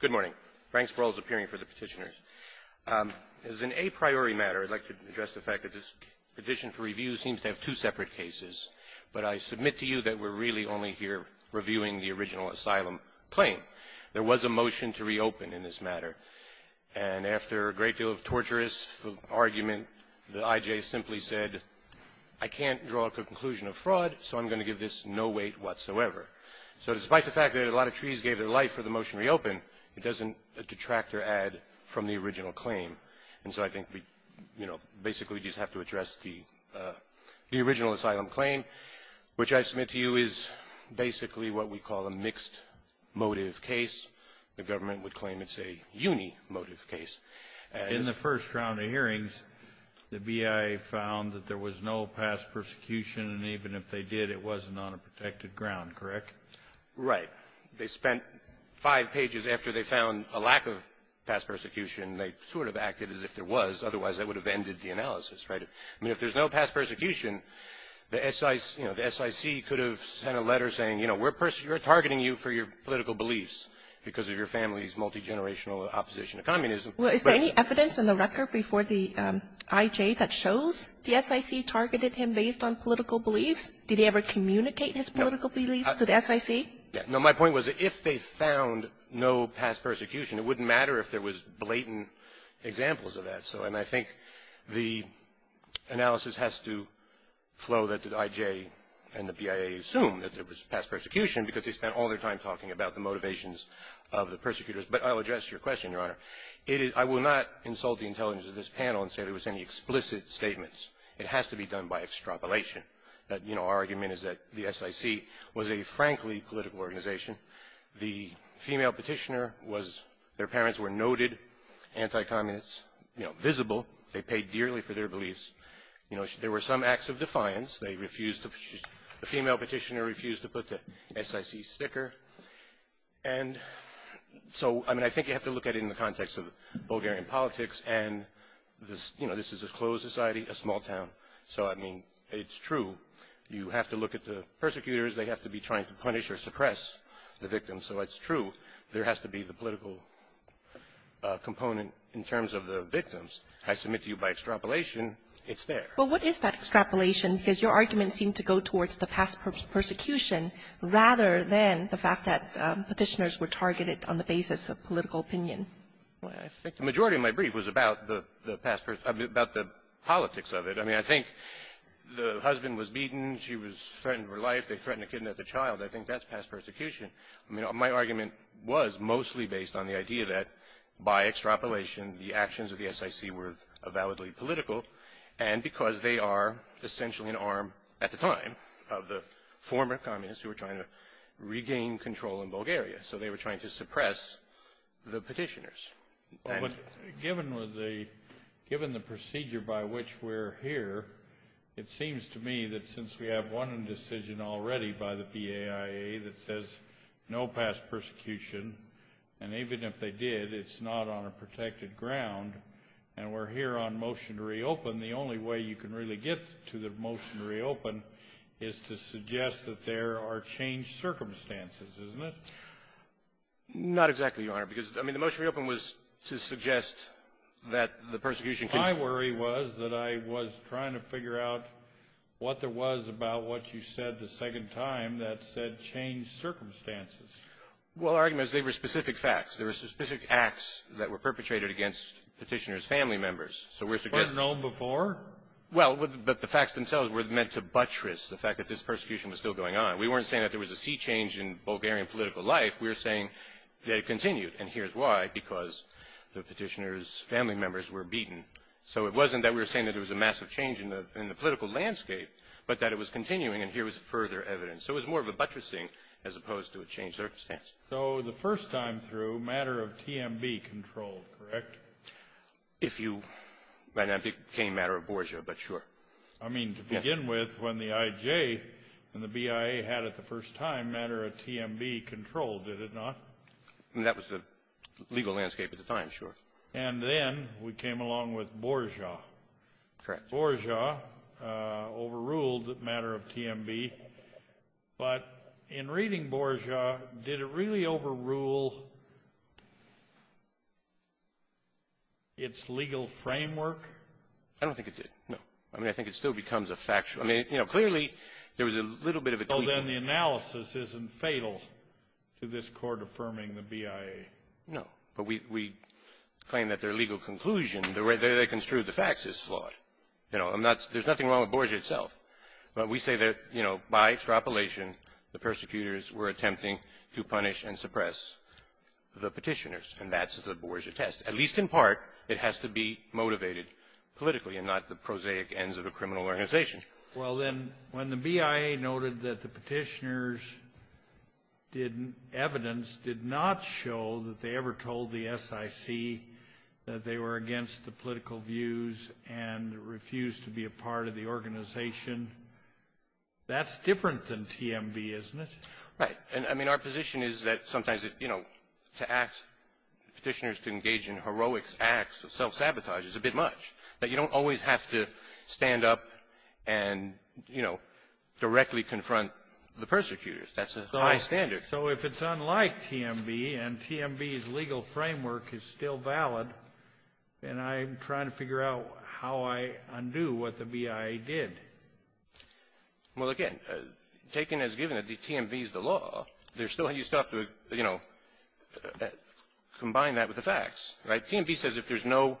Good morning. Frank Sproul is appearing for the petitioners. As an a priori matter, I'd like to address the fact that this petition for review seems to have two separate cases. But I submit to you that we're really only here reviewing the original asylum claim. There was a motion to reopen in this matter. And after a great deal of torturous argument, the I.J. simply said, I can't draw a conclusion of fraud, so I'm going to give this no weight whatsoever. So despite the fact that a lot of trees gave their life for the motion to reopen, it doesn't detract or add from the original claim. And so I think we basically just have to address the original asylum claim, which I submit to you is basically what we call a mixed motive case. The government would claim it's a unimotive case. In the first round of hearings, the BIA found that there was no past persecution, and even if they did, it wasn't on a protected ground, correct? Right. They spent five pages after they found a lack of past persecution. They sort of acted as if there was, otherwise that would have ended the analysis, right? I mean, if there's no past persecution, the S.I.C. you know, the S.I.C. could have sent a letter saying, you know, we're targeting you for your political beliefs because of your family's multigenerational opposition to communism. Well, is there any evidence in the record before the I.J. that shows the S.I.C. targeted him based on political beliefs? Did he ever communicate his political beliefs to the S.I.C.? No. My point was if they found no past persecution, it wouldn't matter if there was blatant examples of that. And I think the analysis has to flow that the I.J. and the BIA assume that there was past persecution because they spent all their time talking about the motivations of the persecutors. But I'll address your question, Your Honor. It is – I will not insult the intelligence of this panel and say there was any explicit statements. It has to be done by extrapolation. You know, our argument is that the S.I.C. was a, frankly, political organization. The female petitioner was – their parents were noted anti-communists, you know, visible. They paid dearly for their beliefs. You know, there were some acts of defiance. They refused to – the female petitioner refused to put the S.I.C. sticker. And so, I mean, I think you have to look at it in the context of Bulgarian politics. And this – you know, this is a closed society, a small town. So, I mean, it's true. You have to look at the persecutors. They have to be trying to punish or suppress the victims. So it's true. There has to be the political component in terms of the victims. I submit to you by extrapolation, it's there. But what is that extrapolation? Because your argument seemed to go towards the past persecution rather than the fact that petitioners were targeted on the basis of political opinion. Well, I think the majority of my brief was about the past – about the politics of it. I mean, I think the husband was beaten. She was threatened with her life. They threatened to kidnap the child. I think that's past persecution. I mean, my argument was mostly based on the idea that by extrapolation, the actions of the S.I.C. were validly political. And because they are essentially an arm at the time of the former communists who were trying to regain control in Bulgaria. So they were trying to suppress the petitioners. Given the procedure by which we're here, it seems to me that since we have one decision already by the PAIA that says no past persecution, and even if they did, it's not on a protected ground, and we're here on motion to reopen, the only way you can really get to the motion to reopen is to suggest that there are changed circumstances, isn't it? Not exactly, Your Honor. Because, I mean, the motion to reopen was to suggest that the persecution continued. My worry was that I was trying to figure out what there was about what you said the second time that said changed circumstances. Well, our argument is they were specific facts. There were specific acts that were perpetrated against petitioners' family members. So we're suggesting — Were known before? Well, but the facts themselves were meant to buttress the fact that this persecution was still going on. We weren't saying that there was a sea change in Bulgarian political life. We were saying that it continued, and here's why, because the petitioners' family members were beaten. So it wasn't that we were saying that there was a massive change in the political landscape, but that it was continuing, and here was further evidence. So it was more of a buttressing as opposed to a changed circumstance. So the first time through, matter of TMB control, correct? If you — and that became matter of Borgia, but sure. I mean, to begin with, when the IJ and the BIA had it the first time, matter of TMB control, did it not? That was the legal landscape at the time, sure. And then we came along with Borgia. Correct. Borgia overruled matter of TMB. But in reading Borgia, did it really overrule its legal framework? I don't think it did, no. I mean, I think it still becomes a factual — I mean, you know, clearly there was a little bit of a tweak. Well, then the analysis isn't fatal to this Court affirming the BIA. No. But we — we claim that their legal conclusion, the way they construed the facts, is flawed. You know, I'm not — there's nothing wrong with Borgia itself. But we say that, you know, by extrapolation, the persecutors were attempting to punish and suppress the petitioners, and that's the Borgia test. At least in part, it has to be motivated politically and not the prosaic ends of a criminal organization. Well, then, when the BIA noted that the petitioners did — evidence did not show that they ever told the SIC that they were against the political views and refused to be a part of the organization, that's different than TMB, isn't it? Right. I mean, our position is that sometimes, you know, to ask petitioners to engage in heroic acts of self-sabotage is a bit much, that you don't always have to stand up and, you know, directly confront the persecutors. That's a high standard. So if it's unlike TMB, and TMB's legal framework is still valid, then I'm trying to figure out how I undo what the BIA did. Well, again, taken as given that TMB is the law, there's still a lot of stuff to, you know, combine that with the facts, right? TMB says if there's no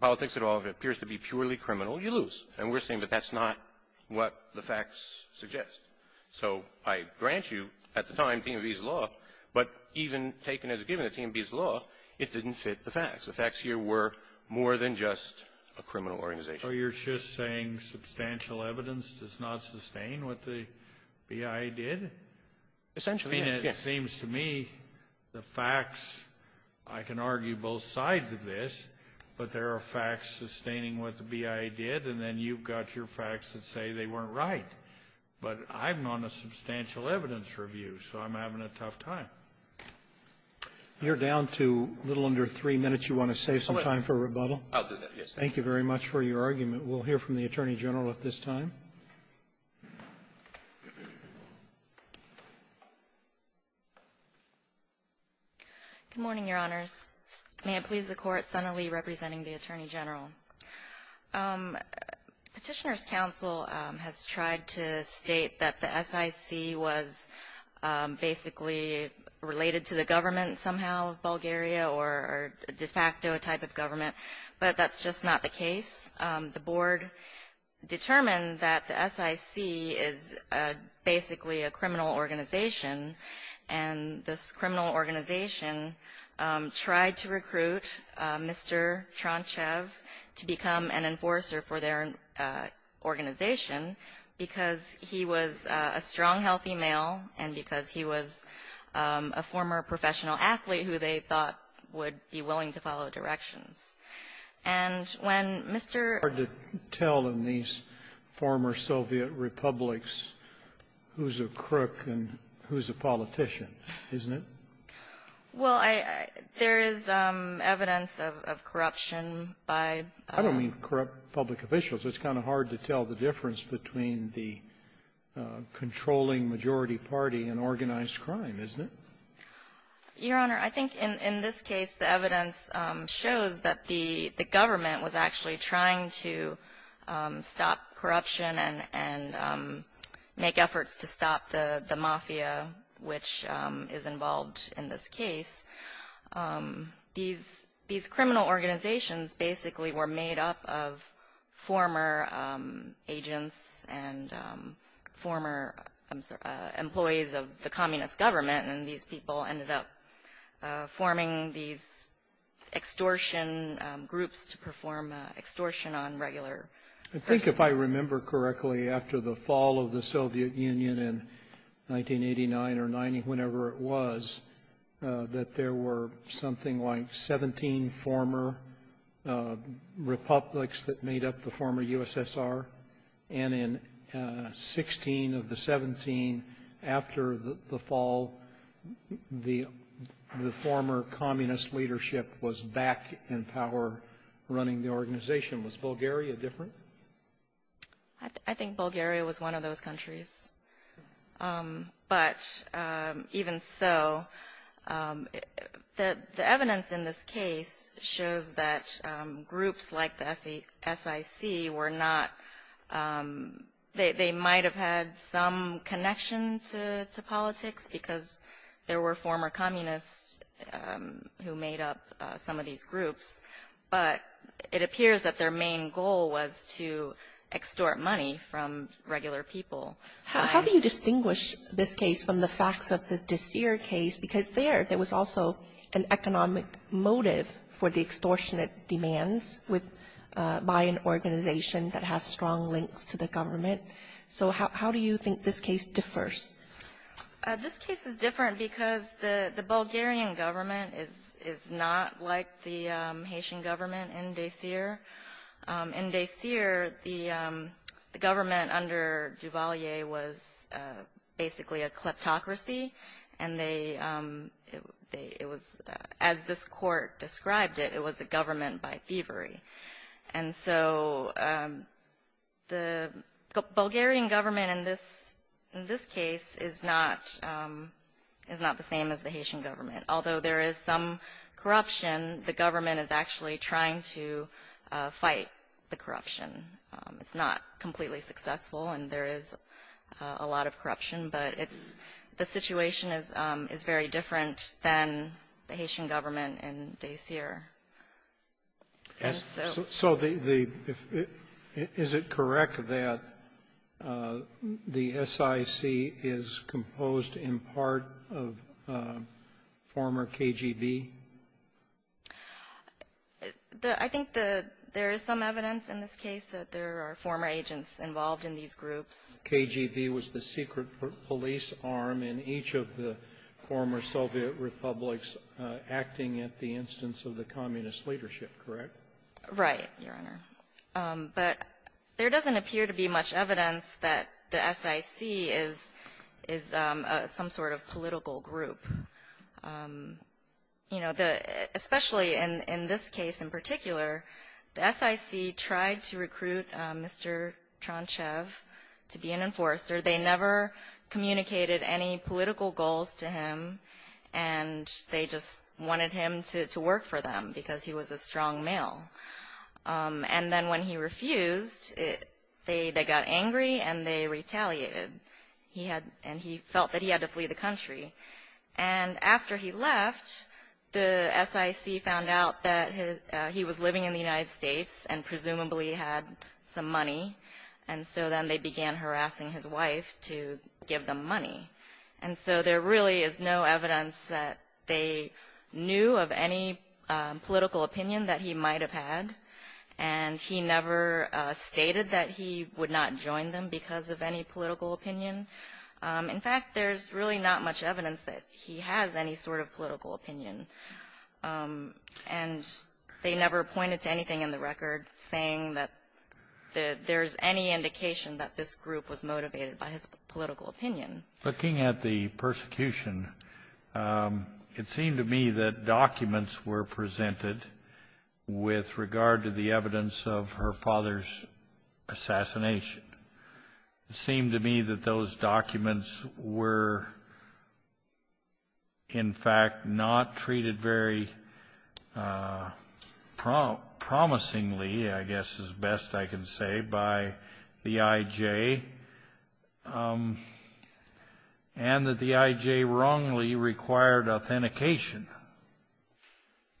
politics at all, if it appears to be purely criminal, you lose. And we're saying that that's not what the facts suggest. So I grant you, at the time, TMB's law, but even taken as given that TMB's law, it didn't fit the facts. The facts here were more than just a criminal organization. So you're just saying substantial evidence does not sustain what the BIA did? Essentially, yes. I mean, it seems to me the facts, I can argue both sides of this, but there are facts sustaining what the BIA did, and then you've got your facts that say they weren't right. But I'm on a substantial evidence review, so I'm having a tough time. You're down to a little under three minutes. You want to save some time for rebuttal? I'll do that, yes, sir. Thank you very much for your argument. We'll hear from the Attorney General at this time. Good morning, Your Honors. May it please the Court, Senator Lee representing the Attorney General. Petitioner's counsel has tried to state that the SIC was basically related to the government somehow, Bulgaria, or a de facto type of government, but that's just not the case. The Board determined that the SIC is basically a criminal organization, and this enforcer for their organization because he was a strong, healthy male and because he was a former professional athlete who they thought would be willing to follow directions. And when Mr. ---- It's hard to tell in these former Soviet republics who's a crook and who's a politician, isn't it? Well, there is evidence of corruption by ---- I don't mean corrupt public officials. It's kind of hard to tell the difference between the controlling majority party and organized crime, isn't it? Your Honor, I think in this case, the evidence shows that the government was actually trying to stop corruption and make efforts to stop the mafia which is involved in this case. These criminal organizations basically were made up of former agents and former employees of the communist government, and these people ended up forming these extortion groups to perform extortion on regular persons. I think if I remember correctly, after the fall of the Soviet Union in 1989 or 90, whenever it was, that there were something like 17 former republics that made up the former USSR, and in 16 of the 17 after the fall, the former communist leadership was back in power running the organization. Was Bulgaria different? I think Bulgaria was one of those countries, but even so, the evidence in this case shows that groups like the SIC were not ---- they might have had some connection to politics because there were former communists who made up some of these groups, but it appears that their main goal was to extort money from regular people. How do you distinguish this case from the facts of the Dissier case? Because there, there was also an economic motive for the extortionate demands by an organization that has strong links to the government. So how do you think this case differs? This case is different because the Bulgarian government is not like the Haitian government in Dissier. In Dissier, the government under Duvalier was basically a kleptocracy, and as this court described it, it was a government by thievery. And so the Bulgarian government in this case is not the same as the Haitian government. Although there is some corruption, the government is actually trying to fight the corruption. It's not completely successful, and there is a lot of corruption, but the situation is very different than the Haitian government in Dissier. And so the the Is it correct that the SIC is composed in part of former KGB? The I think the there is some evidence in this case that there are former agents involved in these groups. KGB was the secret police arm in each of the former Soviet republics acting at the leadership, correct? Right, Your Honor. But there doesn't appear to be much evidence that the SIC is some sort of political group. You know, especially in this case in particular, the SIC tried to recruit Mr. Tronchev to be an enforcer. They never communicated any political goals to him, and they just wanted him to work for them because he was a strong male. And then when he refused, they got angry and they retaliated. And he felt that he had to flee the country. And after he left, the SIC found out that he was living in the United States and gave them money. And so there really is no evidence that they knew of any political opinion that he might have had. And he never stated that he would not join them because of any political opinion. In fact, there's really not much evidence that he has any sort of political opinion. And they never pointed to anything in the record saying that there's any indication that this group was motivated by his political opinion. Looking at the persecution, it seemed to me that documents were presented with regard to the evidence of her father's assassination. It seemed to me that those documents were, in fact, not treated very promisingly, I guess, is best I can say, by the IJ. And that the IJ wrongly required authentication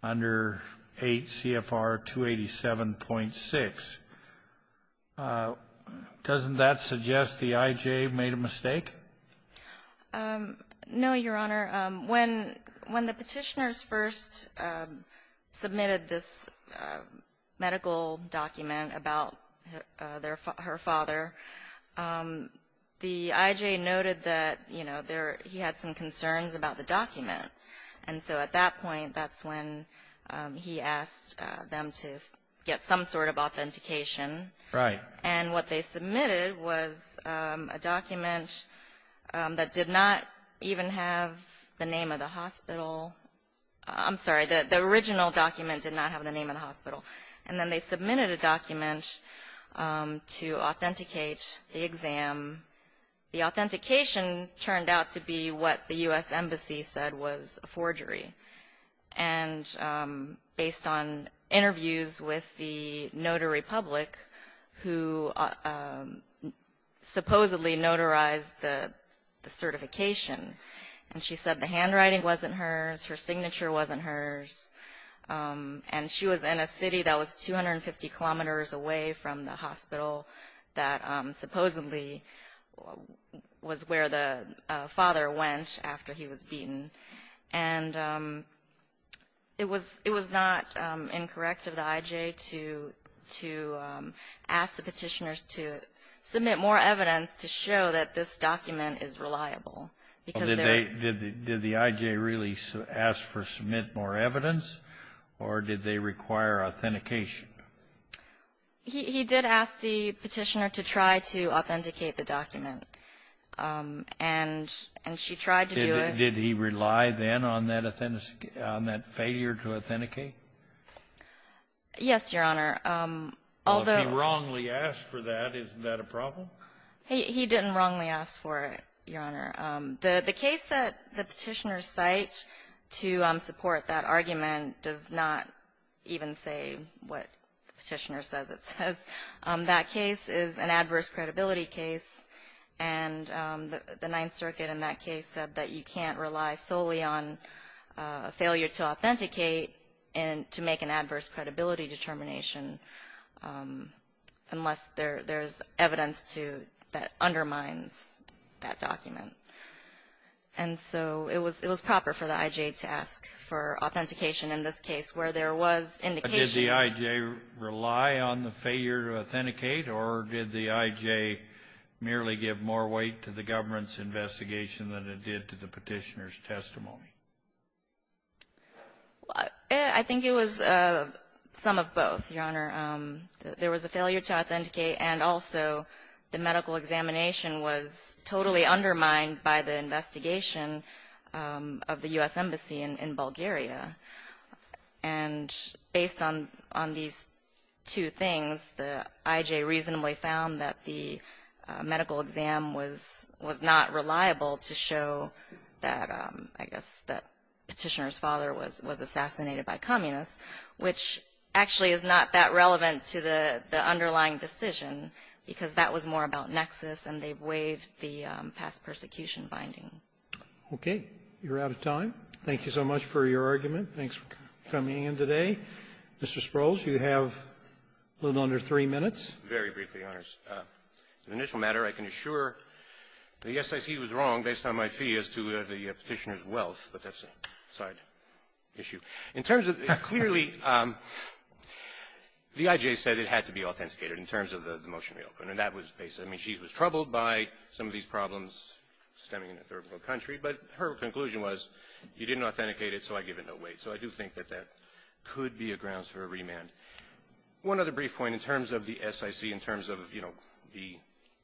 under 8 CFR 287.6. Doesn't that suggest the IJ made a mistake? No, Your Honor. When the petitioners first submitted this medical document about her father, the IJ noted that, you know, he had some concerns about the document. And so at that point, that's when he asked them to get some sort of authentication. Right. And what they submitted was a document that did not even have the name of the hospital. I'm sorry, the original document did not have the name of the hospital. And then they submitted a document to authenticate the exam. The authentication turned out to be what the U.S. Embassy said was a forgery. And based on interviews with the notary public who supposedly notarized the certification, and she said the handwriting wasn't hers, her signature wasn't hers. And she was in a city that was 250 kilometers away from the hospital that supposedly was where the father went after he was beaten. And it was not incorrect of the IJ to ask the petitioners to submit more evidence to show that this document is reliable. Did the IJ really ask for submit more evidence, or did they require authentication? He did ask the petitioner to try to authenticate the document. And she tried to do it. Did he rely then on that failure to authenticate? Yes, Your Honor. Well, if he wrongly asked for that, isn't that a problem? He didn't wrongly ask for it, Your Honor. The case that the petitioners cite to support that argument does not even say what the petitioner says it says. That case is an adverse credibility case. And the Ninth Circuit in that case said that you can't rely solely on a failure to authenticate to make an adverse credibility determination unless there's evidence that undermines that document. And so it was proper for the IJ to ask for authentication in this case where there was indication. Did the IJ rely on the failure to authenticate, or did the IJ merely give more weight to the government's investigation than it did to the petitioner's testimony? I think it was some of both, Your Honor. There was a failure to authenticate, and also the medical examination was totally undermined by the investigation of the U.S. And on these two things, the IJ reasonably found that the medical exam was not reliable to show that, I guess, the petitioner's father was assassinated by communists, which actually is not that relevant to the underlying decision, because that was more about nexus, and they waived the past persecution binding. Okay. You're out of time. Thank you so much for your argument. Thanks for coming in today. Mr. Sprouls, you have a little under three minutes. Very briefly, Your Honors. The initial matter, I can assure the SIC was wrong based on my fee as to the petitioner's wealth, but that's a side issue. In terms of the clearly, the IJ said it had to be authenticated in terms of the motion we opened, and that was basically the reason. She was troubled by some of these problems stemming in a third-world country, but her conclusion was you didn't authenticate it, so I give it no weight. So I do think that that could be a grounds for a remand. One other brief point in terms of the SIC, in terms of, you know, the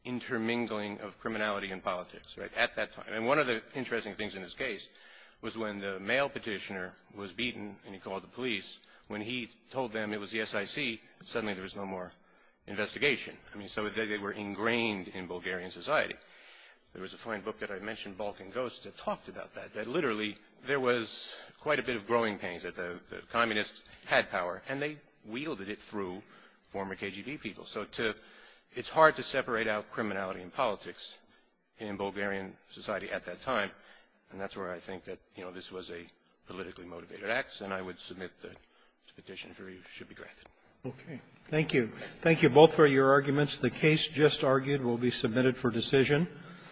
intermingling of criminality and politics, right, at that time. And one of the interesting things in this case was when the male petitioner was beaten and he called the police, when he told them it was the SIC, suddenly there was no more investigation. I mean, so they were ingrained in Bulgarian society. There was a fine book that I mentioned, Balkan Ghosts, that talked about that, that literally there was quite a bit of growing pains, that the communists had power, and they wielded it through former KGB people. So to – it's hard to separate out criminality and politics in Bulgarian society at that time, and that's where I think that, you know, this was a politically motivated act, and I would submit the petition should be granted. Roberts. Thank you. Thank you both for your arguments. The case just argued will be submitted for decision.